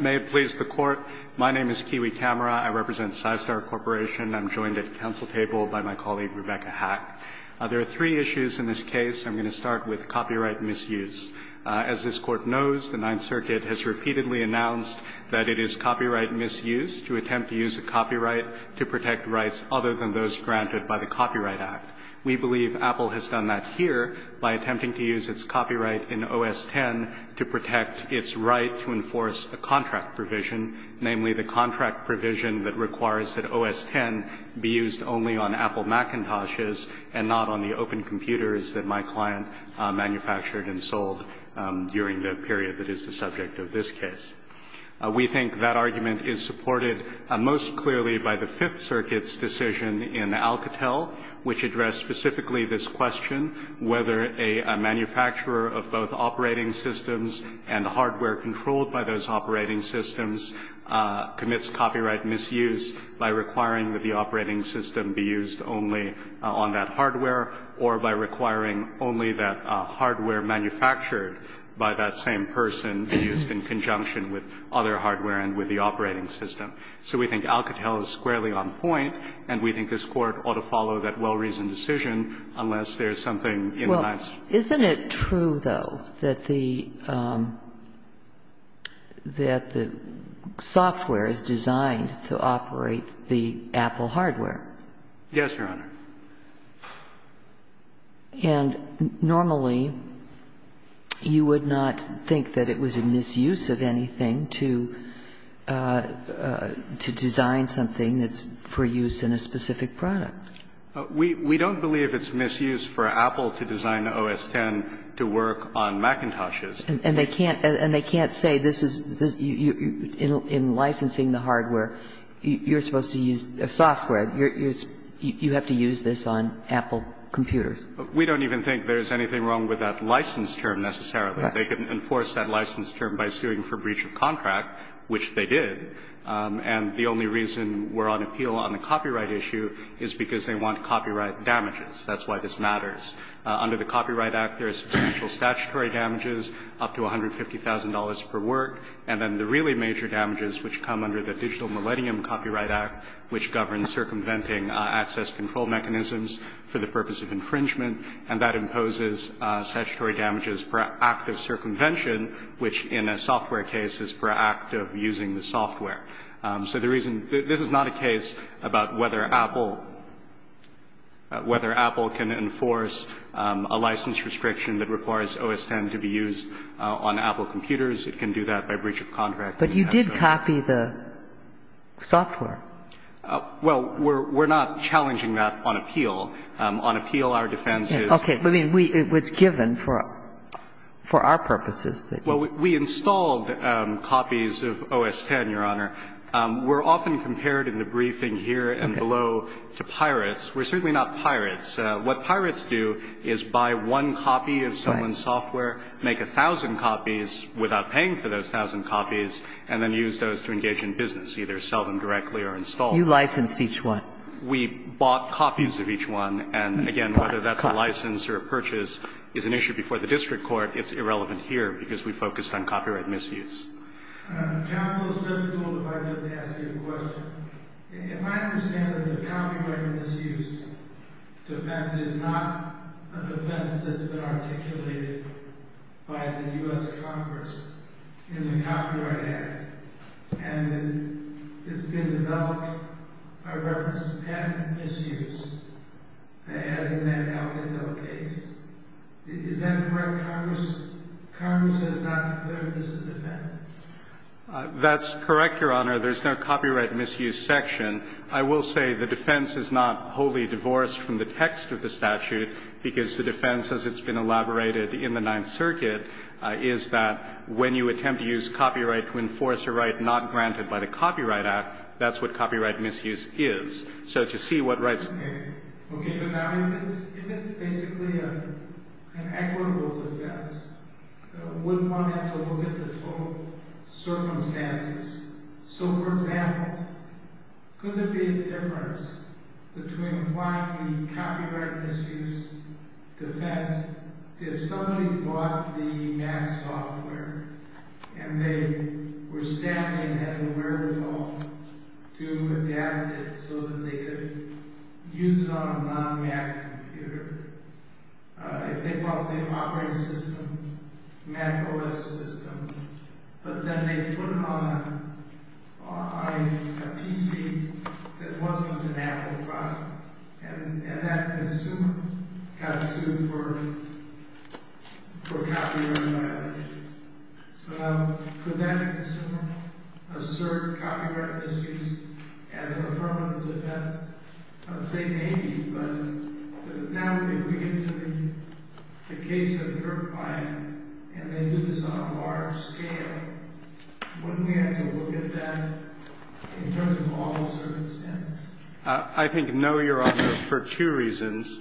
May it please the Court, my name is Kiwi Kamara. I represent Psystar Corporation. I'm joined at the Council table by my colleague Rebecca Hack. There are three issues in this case. I'm going to start with copyright misuse. As this Court knows, the Ninth Circuit has repeatedly announced that it is copyright misuse to attempt to use a copyright to protect rights other than those granted by the Copyright Act. We believe Apple has done that here by attempting to use its copyright in OS X to protect its right to enforce a contract provision, namely the contract provision that requires that OS X be used only on Apple Macintoshes and not on the open computers that my client manufactured and sold during the period that is the subject of this case. We think that argument is supported most clearly by the Fifth Circuit's decision in Alcatel, which addressed specifically this question, whether a manufacturer of both operating systems and hardware controlled by those operating systems commits copyright misuse by requiring that the operating system be used only on that hardware or by requiring only that hardware manufactured by that same person be used in conjunction with other hardware and with the operating system. So we think Alcatel is squarely on point, and we think this Court ought to follow that well-reasoned decision unless there is something in the lines. Isn't it true, though, that the software is designed to operate the Apple hardware? Yes, Your Honor. And normally you would not think that it was a misuse of anything to design something that's for use in a specific product. We don't believe it's misuse for Apple to design the OS X to work on Macintoshes. And they can't say this is, in licensing the hardware, you're supposed to use software. You have to use this on Apple computers. We don't even think there's anything wrong with that license term, necessarily. They can enforce that license term by suing for breach of contract, which they did. And the only reason we're on appeal on the copyright issue is because they want copyright damages. That's why this matters. Under the Copyright Act, there is substantial statutory damages, up to $150,000 per work. And then the really major damages, which come under the Digital Millennium Copyright Act, which governs circumventing access control mechanisms for the purpose of infringement, and that imposes statutory damages per act of circumvention, which in a software case is per act of using the software. So the reason this is not a case about whether Apple can enforce a license restriction that requires OS X to be used on Apple computers. It can do that by breach of contract. But you did copy the software. Well, we're not challenging that on appeal. Well, we installed copies of OS X, Your Honor. We're often compared in the briefing here and below to pirates. We're certainly not pirates. What pirates do is buy one copy of someone's software, make a thousand copies without paying for those thousand copies, and then use those to engage in business, either sell them directly or install them. You licensed each one. We bought copies of each one, and again, whether that's a license or a purchase is an issue before the district court, it's irrelevant here because we focused on copyright misuse. Counsel, it's difficult if I didn't ask you a question. If I understand that the copyright misuse defense is not a defense that's been articulated by the U.S. Congress in the Copyright Act, and it's been developed by reference to patent misuse, as in the Alcantara case, is that correct? Congress has not declared this a defense? That's correct, Your Honor. There's no copyright misuse section. I will say the defense is not wholly divorced from the text of the statute because the defense, as it's been elaborated in the Ninth Circuit, is that when you attempt to use copyright to enforce a right not granted by the Copyright Act, that's what copyright misuse is. So to see what rights... Okay, but now if it's basically an equitable defense, wouldn't one have to look at the total circumstances? So for example, could there be a difference between applying the copyright misuse defense if somebody bought the Mac software and they were sampling it at the wherewithal to adapt it so that they could use it on a non-Mac computer? If they bought the operating system, Mac OS system, but then they put it on a PC that wasn't an Apple product, and that consumer got sued for copyright violation. So now, could that consumer assert copyright misuse as an affirmative defense? I would say maybe, but now that we're getting to the case of her client and they do this on a large scale, wouldn't we have to look at that in terms of all the circumstances? I think no, Your Honor, for two reasons.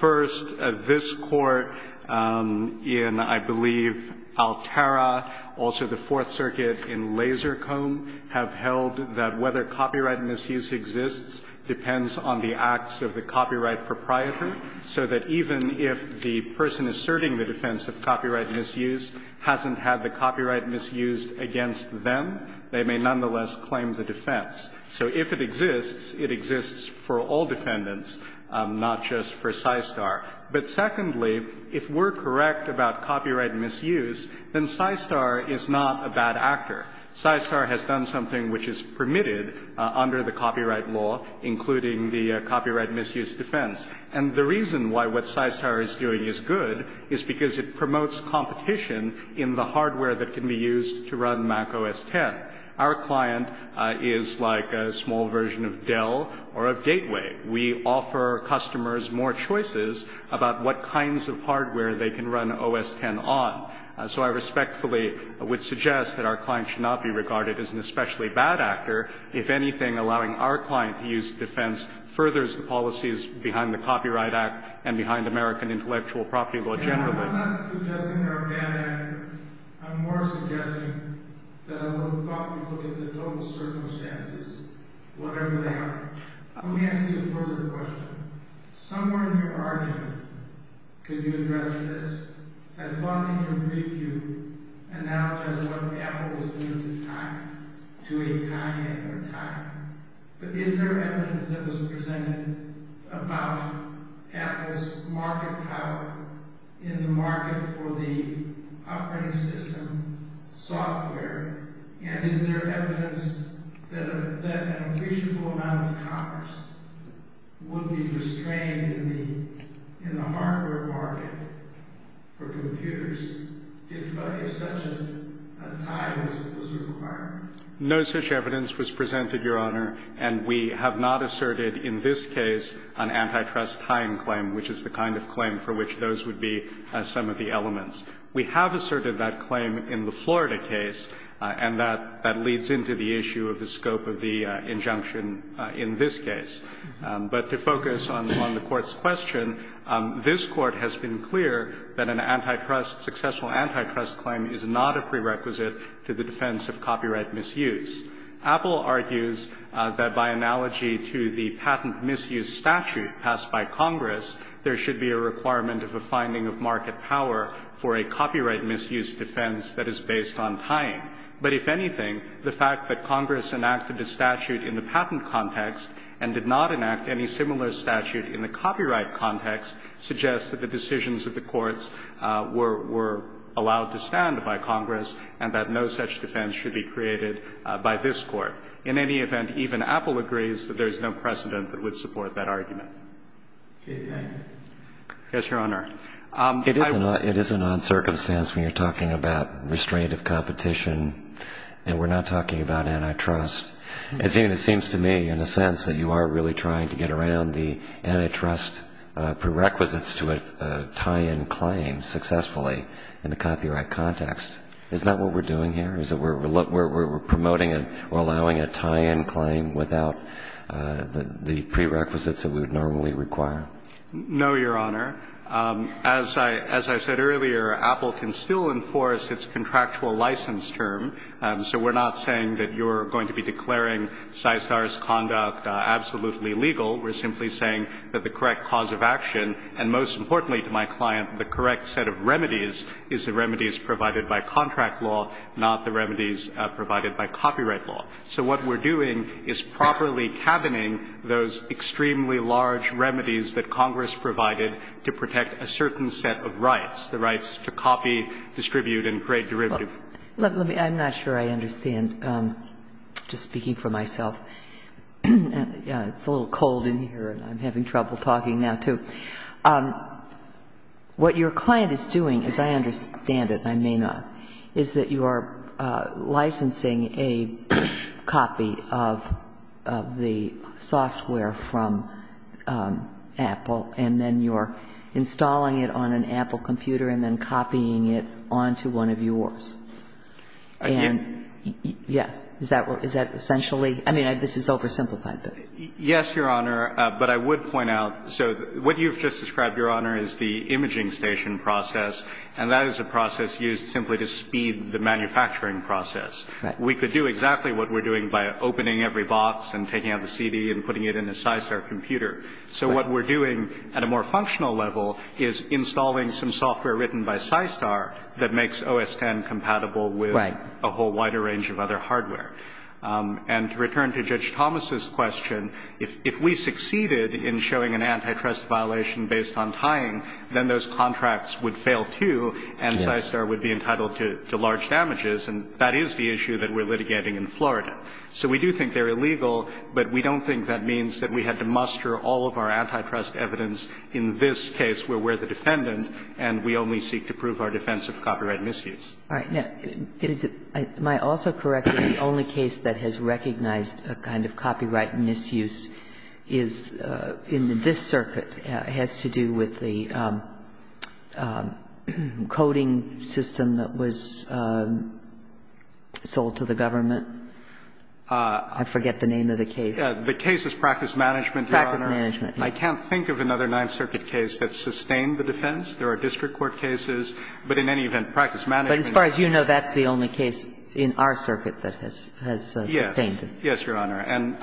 First, this Court in, I believe, Altera, also the Fourth Circuit in Laser Comb, have held that whether copyright misuse exists depends on the acts of the copyright proprietor, so that even if the person asserting the defense of copyright misuse hasn't had the copyright misused against them, they may nonetheless claim the defense. So if it exists, it exists for all defendants, not just for PSYSTAR. But secondly, if we're correct about copyright misuse, then PSYSTAR is not a bad actor. PSYSTAR has done something which is permitted under the copyright law, including the copyright misuse defense. And the reason why what PSYSTAR is doing is good is because it promotes competition in the hardware that can be used to run Mac OS X. Our client is like a small version of Dell or of Gateway. We offer customers more choices about what kinds of hardware they can run OS X on. So I respectfully would suggest that our client should not be regarded as an especially bad actor. If anything, allowing our client to use defense furthers the policies behind the Copyright Act and behind American intellectual property law generally. I'm not suggesting they're a bad actor. I'm more suggesting that I would have thoughtfully looked at the total circumstances, whatever they are. Let me ask you a further question. Somewhere in your argument, could you address this? I thought I could brief you and not just what Apple was doing to time, to a time in their time. But is there evidence that was presented about Apple's market power in the market for the operating system software? And is there evidence that an appreciable amount of commerce would be restrained in the hardware market for computers if such a tie was required? No such evidence was presented, Your Honor. And we have not asserted in this case an antitrust tying claim, which is the kind of claim for which those would be some of the elements. We have asserted that claim in the Florida case, and that leads into the issue of the scope of the injunction in this case. But to focus on the Court's question, this Court has been clear that an antitrust, successful antitrust claim is not a prerequisite to the defense of copyright misuse. Apple argues that by analogy to the patent misuse statute passed by Congress, there should be a requirement of a finding of market power for a copyright misuse defense that is based on tying. But if anything, the fact that Congress enacted a statute in the patent context and did not enact any similar statute in the copyright context suggests that the decisions of the courts were allowed to stand by Congress and that no such defense should be created by this Court. In any event, even Apple agrees that there is no precedent that would support that argument. Yes, Your Honor. It is a non-circumstance when you're talking about restraint of competition, and we're not talking about antitrust. It seems to me, in a sense, that you are really trying to get around the antitrust prerequisites to a tie-in claim successfully in the copyright context. Isn't that what we're doing here? Is it we're promoting and we're allowing a tie-in claim without the prerequisites that we would normally require? No, Your Honor. As I said earlier, Apple can still enforce its contractual license term, so we're not saying that you're going to be declaring Systar's conduct absolutely legal. We're simply saying that the correct cause of action, and most importantly to my client, the correct set of remedies is the remedies provided by contract law, not the remedies provided by copyright law. So what we're doing is properly cabining those extremely large remedies that Congress provided to protect a certain set of rights, the rights to copy, distribute and create derivative. I'm not sure I understand, just speaking for myself. It's a little cold in here and I'm having trouble talking now, too. What your client is doing, as I understand it and I may not, is that you are licensing a copy of the software from Apple and then you're installing it on an Apple computer and then copying it onto one of yours. And, yes, is that essentially? I mean, this is oversimplified, but. Yes, Your Honor, but I would point out. So what you've just described, Your Honor, is the imaging station process, and that is a process used simply to speed the manufacturing process. Right. We could do exactly what we're doing by opening every box and taking out the CD and putting it in a Systar computer. So what we're doing at a more functional level is installing some software written by Systar that makes OS X compatible with a whole wider range of other hardware. And to return to Judge Thomas's question, if we succeeded in showing an antitrust violation based on tying, then those contracts would fail, too, and Systar would be entitled to large damages, and that is the issue that we're litigating in Florida. So we do think they're illegal, but we don't think that means that we had to muster all of our antitrust evidence in this case where we're the defendant and we only seek to prove our defense of copyright misuse. All right. Am I also correct that the only case that has recognized a kind of copyright misuse is in this circuit, has to do with the coding system that was sold to the I forget the name of the case. The case is Practice Management, Your Honor. Practice Management. I can't think of another Ninth Circuit case that sustained the defense. There are district court cases, but in any event, Practice Management. But as far as you know, that's the only case in our circuit that has sustained it. Yes. Yes, Your Honor. And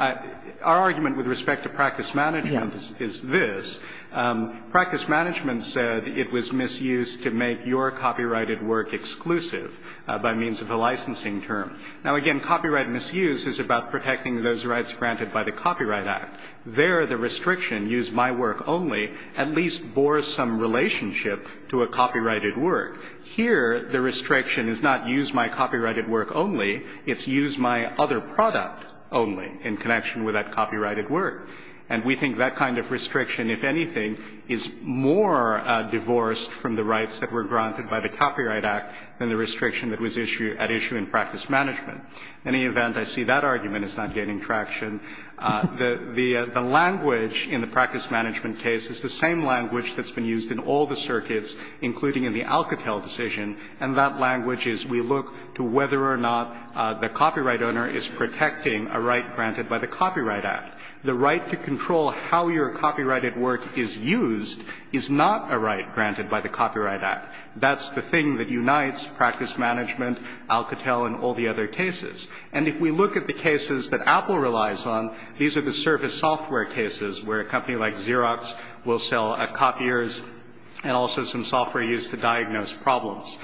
our argument with respect to Practice Management is this. Practice Management said it was misused to make your copyrighted work exclusive by means of a licensing term. Now, again, copyright misuse is about protecting those rights granted by the Copyright Act. There, the restriction, use my work only, at least bore some relationship to a copyrighted work. Here, the restriction is not use my copyrighted work only. It's use my other product only in connection with that copyrighted work. And we think that kind of restriction, if anything, is more divorced from the rights that were granted by the Copyright Act than the restriction that was issued at issue in Practice Management. In any event, I see that argument is not gaining traction. The language in the Practice Management case is the same language that's been used in all the circuits, including in the Alcatel decision, and that language is we look to whether or not the copyright owner is protecting a right granted by the Copyright Act. The right to control how your copyrighted work is used is not a right granted by the Copyright Act. That's the thing that unites Practice Management, Alcatel, and all the other cases. And if we look at the cases that Apple relies on, these are the service software cases where a company like Xerox will sell copiers and also some software used to diagnose problems.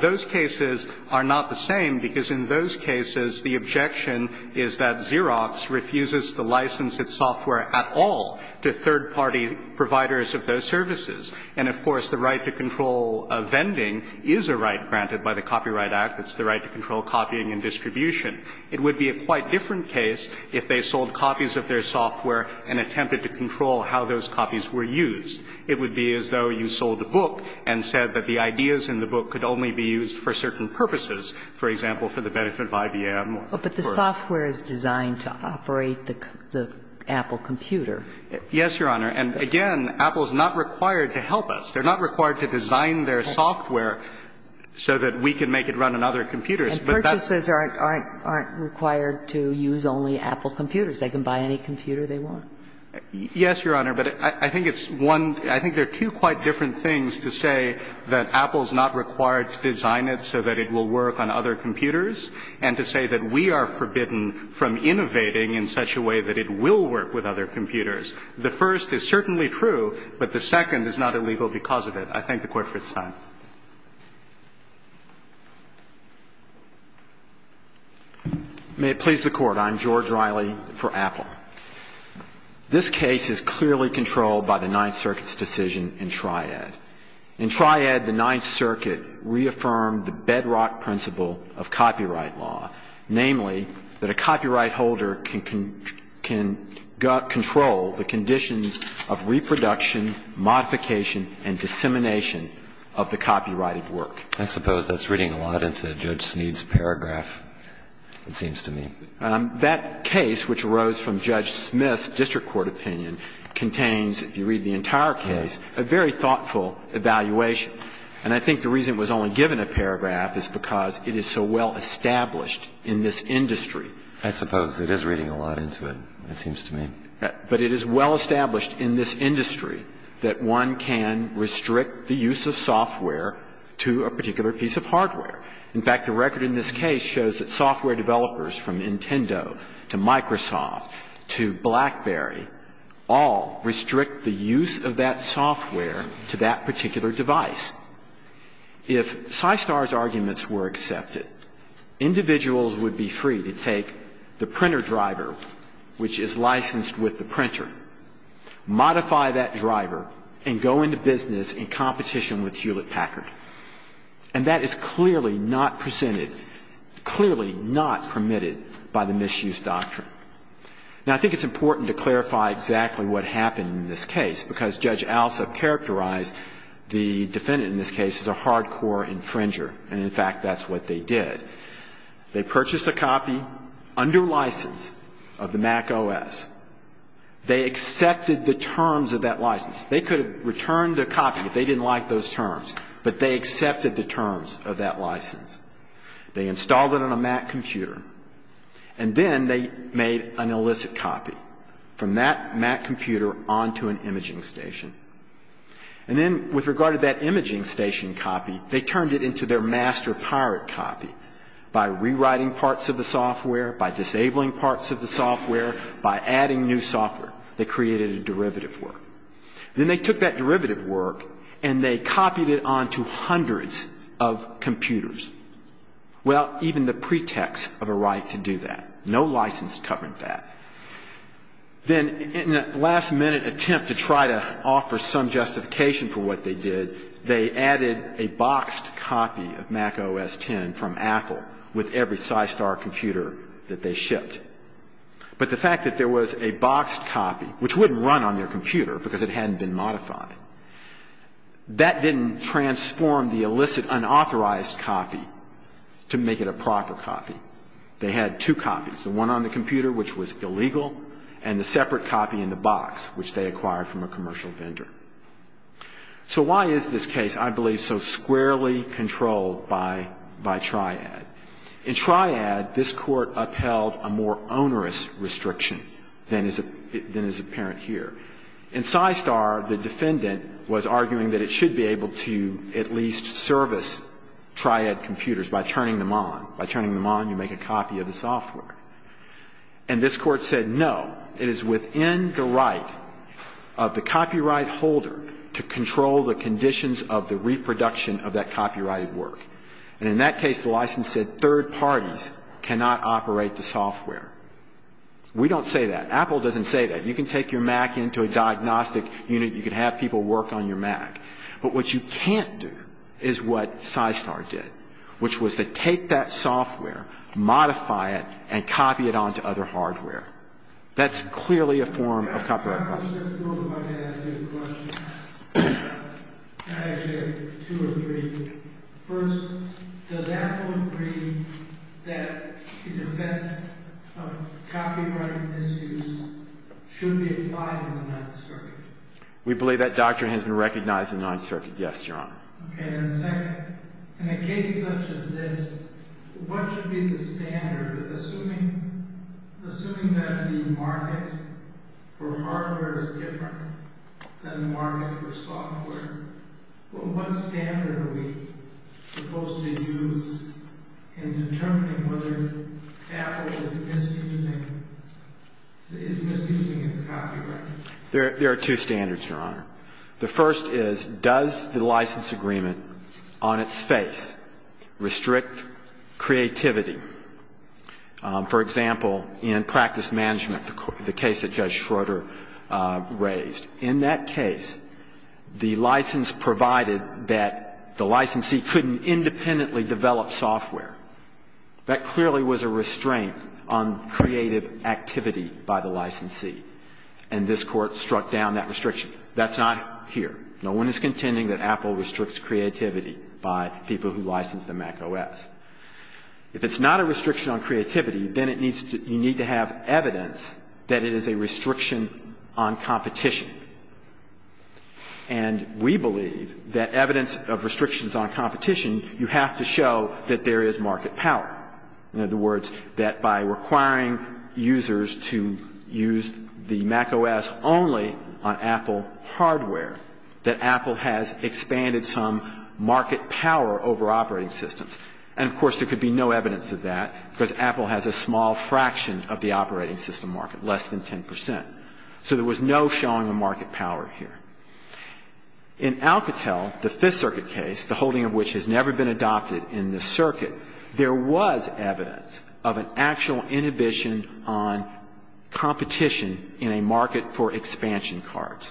Those cases are not the same, because in those cases, the objection is that Xerox refuses to license its software at all to third-party providers of those services. And, of course, the right to control a vending is a right granted by the Copyright Act. It's the right to control copying and distribution. It would be a quite different case if they sold copies of their software and attempted to control how those copies were used. It would be as though you sold a book and said that the ideas in the book could only be used for certain purposes, for example, for the benefit of IBM or for the purpose of the company. But the software is designed to operate the Apple computer. Yes, Your Honor. And, again, Apple is not required to help us. They're not required to design their software so that we can make it run on other But that's the case. And purchases aren't required to use only Apple computers. They can buy any computer they want. Yes, Your Honor. But I think it's one – I think there are two quite different things to say that Apple is not required to design it so that it will work on other computers, and to say that we are forbidden from innovating in such a way that it will work with other computers. The first is certainly true, but the second is not illegal because of it. I thank the Court for its time. May it please the Court. I'm George Riley for Apple. This case is clearly controlled by the Ninth Circuit's decision in Triad. In Triad, the Ninth Circuit reaffirmed the bedrock principle of copyright law, namely that a copyright holder can control the conditions of reproduction, modification, and dissemination of the copyrighted work. I suppose that's reading a lot into Judge Smead's paragraph, it seems to me. That case, which arose from Judge Smith's district court opinion, contains, if you read the entire case, a very thoughtful evaluation. And I think the reason it was only given a paragraph is because it is so well established in this industry. I suppose it is reading a lot into it, it seems to me. But it is well established in this industry that one can restrict the use of software to a particular piece of hardware. In fact, the record in this case shows that software developers from Nintendo to Microsoft to BlackBerry all restrict the use of that software to that particular device. If Systar's arguments were accepted, individuals would be free to take the printer driver, which is licensed with the printer, modify that driver, and go into business in competition with Hewlett-Packard. And that is clearly not presented, clearly not permitted by the misuse doctrine. Now, I think it's important to clarify exactly what happened in this case, because Judge Alsa characterized the defendant in this case as a hardcore infringer. And, in fact, that's what they did. They purchased a copy under license of the Mac OS. They accepted the terms of that license. They could have returned the copy, but they didn't like those terms. But they accepted the terms of that license. They installed it on a Mac computer. And then they made an illicit copy from that Mac computer onto an imaging station. And then, with regard to that imaging station copy, they turned it into their master pirate copy by rewriting parts of the software, by disabling parts of the software, by adding new software. They created a derivative work. Then they took that derivative work and they copied it onto hundreds of computers. Well, even the pretext of a right to do that. No license governed that. Then, in a last-minute attempt to try to offer some justification for what they did, they added a boxed copy of Mac OS X from Apple with every Systar computer that they shipped. But the fact that there was a boxed copy, which wouldn't run on their computer because it hadn't been modified, that didn't transform the illicit, unauthorized copy to make it a proper copy. They had two copies, the one on the computer, which was illegal, and the separate copy in the box, which they acquired from a commercial vendor. So why is this case, I believe, so squarely controlled by Triad? In Triad, this Court upheld a more onerous restriction than is apparent here. In Systar, the defendant was arguing that it should be able to at least service Triad computers by turning them on. By turning them on, you make a copy of the software. And this Court said, no, it is within the right of the copyright holder to control the conditions of the reproduction of that copyrighted work. And in that case, the license said third parties cannot operate the software. We don't say that. Apple doesn't say that. You can take your Mac into a diagnostic unit. You can have people work on your Mac. But what you can't do is what Systar did, which was to take that software, modify it, and copy it on to other hardware. That's clearly a form of copyright violation. First, does Apple agree that the defense of copyright misuse should be applied in the Ninth Circuit? We believe that doctrine has been recognized in the Ninth Circuit, yes, Your Honor. And second, in a case such as this, what should be the standard, assuming that the market for hardware is different than the market for software? What standard are we supposed to use in determining whether Apple is misusing its copyright? There are two standards, Your Honor. The first is, does the license agreement on its face restrict creativity? For example, in practice management, the case that Judge Schroeder raised, in that case, the license provided that the licensee couldn't independently develop software. That clearly was a restraint on creative activity by the licensee. And this Court struck down that restriction. That's not here. No one is contending that Apple restricts creativity by people who license the macOS. If it's not a restriction on creativity, then you need to have evidence that it is a restriction on competition. And we believe that evidence of restrictions on competition, you have to show that there is market power. In other words, that by requiring users to use the macOS only on Apple hardware, that And, of course, there could be no evidence of that because Apple has a small fraction of the operating system market, less than 10 percent. So there was no showing of market power here. In Alcatel, the Fifth Circuit case, the holding of which has never been adopted in the circuit, there was evidence of an actual inhibition on competition in a market for expansion cards.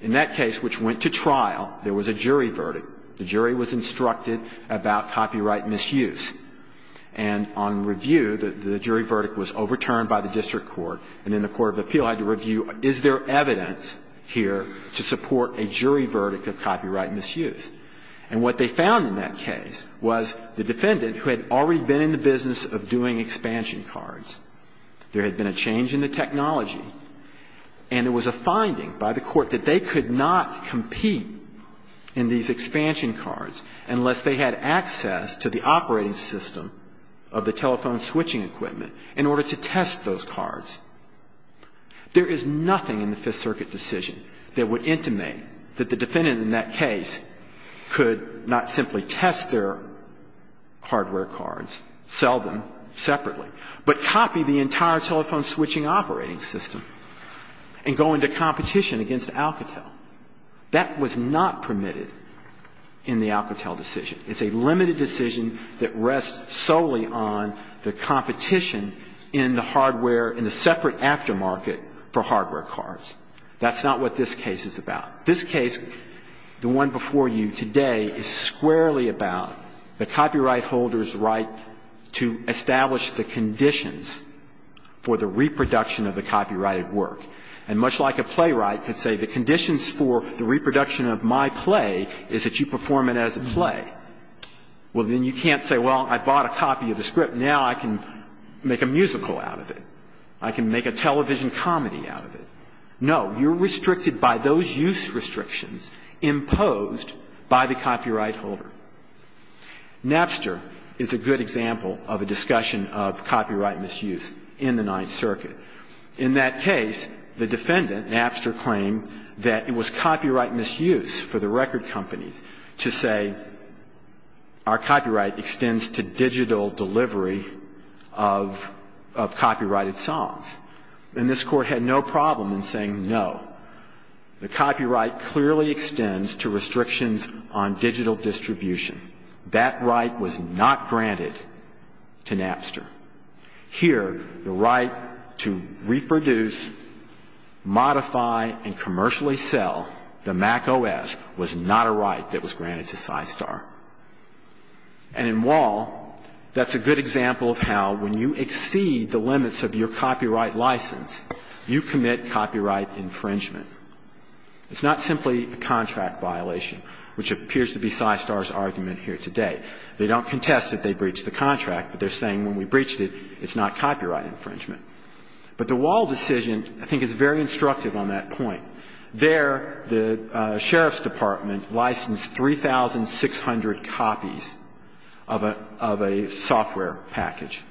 In that case, which went to trial, there was a jury verdict. The jury was instructed about copyright misuse. And on review, the jury verdict was overturned by the district court. And then the court of appeal had to review, is there evidence here to support a jury verdict of copyright misuse? And what they found in that case was the defendant, who had already been in the business of doing expansion cards, there had been a change in the technology, and there was a finding by the court that they could not compete in these expansion cards unless they had access to the operating system of the telephone switching equipment in order to test those cards. There is nothing in the Fifth Circuit decision that would intimate that the defendant in that case could not simply test their hardware cards, sell them separately, but copy the entire telephone switching operating system and go into competition against Alcatel. That was not permitted in the Alcatel decision. It's a limited decision that rests solely on the competition in the hardware, in the separate aftermarket for hardware cards. That's not what this case is about. This case, the one before you today, is squarely about the copyright holder's right to establish the conditions for the reproduction of the copyrighted work. And much like a playwright could say the conditions for the reproduction of my play is that you perform it as a play, well, then you can't say, well, I bought a copy of the script. Now I can make a musical out of it. I can make a television comedy out of it. No. You're restricted by those use restrictions imposed by the copyright holder. Napster is a good example of a discussion of copyright misuse in the Ninth Circuit. In that case, the defendant, Napster, claimed that it was copyright misuse for the record companies to say our copyright extends to digital delivery of copyrighted songs. And this Court had no problem in saying no. The copyright clearly extends to restrictions on digital distribution. That right was not granted to Napster. Here, the right to reproduce, modify, and commercially sell the Mac OS was not a right that was granted to Systar. And in Wall, that's a good example of how when you exceed the limits of your copyright license, you commit copyright infringement. It's not simply a contract violation, which appears to be Systar's argument here today. They don't contest that they breached the contract, but they're saying when we breached it, it's not copyright infringement. But the Wall decision, I think, is very instructive on that point. There, the Sheriff's Department licensed 3,600 copies of a software package.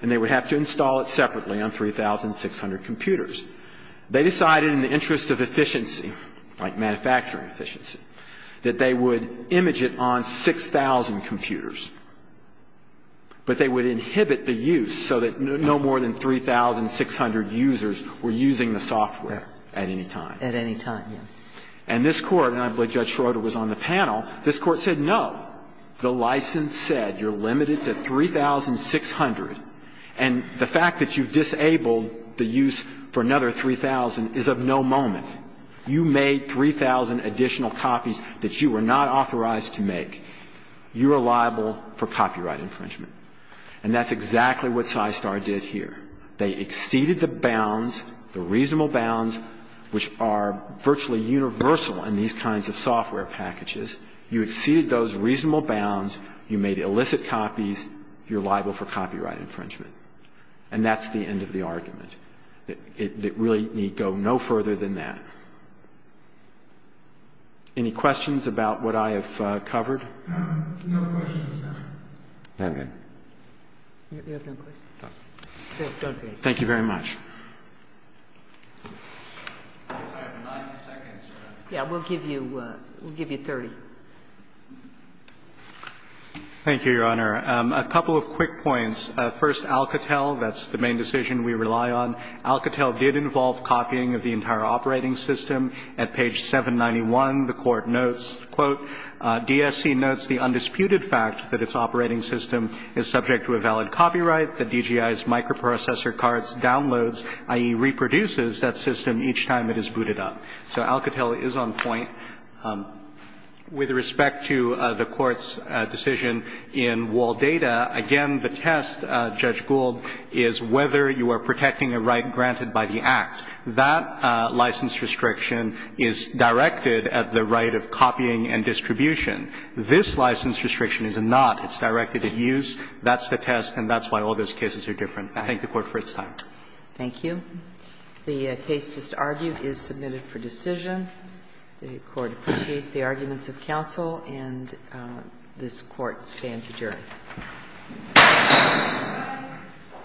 And they would have to install it separately on 3,600 computers. They decided in the interest of efficiency, like manufacturing efficiency, that they would image it on 6,000 computers, but they would inhibit the use so that no more than 3,600 users were using the software at any time. At any time, yes. And this Court, and I believe Judge Schroeder was on the panel, this Court said no. The license said you're limited to 3,600. And the fact that you've disabled the use for another 3,000 is of no moment. You made 3,000 additional copies that you were not authorized to make. You are liable for copyright infringement. And that's exactly what Systar did here. They exceeded the bounds, the reasonable bounds, which are virtually universal in these kinds of software packages. You exceeded those reasonable bounds. You made illicit copies. You're liable for copyright infringement. And that's the end of the argument. It really need go no further than that. Any questions about what I have covered? No questions, Your Honor. Okay. Thank you very much. We'll give you 30. Thank you, Your Honor. A couple of quick points. First, Alcatel, that's the main decision we rely on. Alcatel did involve copying of the entire operating system. At page 791, the Court notes, quote, So Alcatel is on point. With respect to the Court's decision in Waldata, again, the test, Judge Gould, is whether you are protecting a right granted by the Act. That license restriction is directed at the right of copying and distribution. This license restriction is not. It's directed at use. That's the test, and that's why all those cases are different. I thank the Court for its time. Thank you. The case just argued is submitted for decision. The Court appreciates the arguments of counsel, and this Court stands adjourned.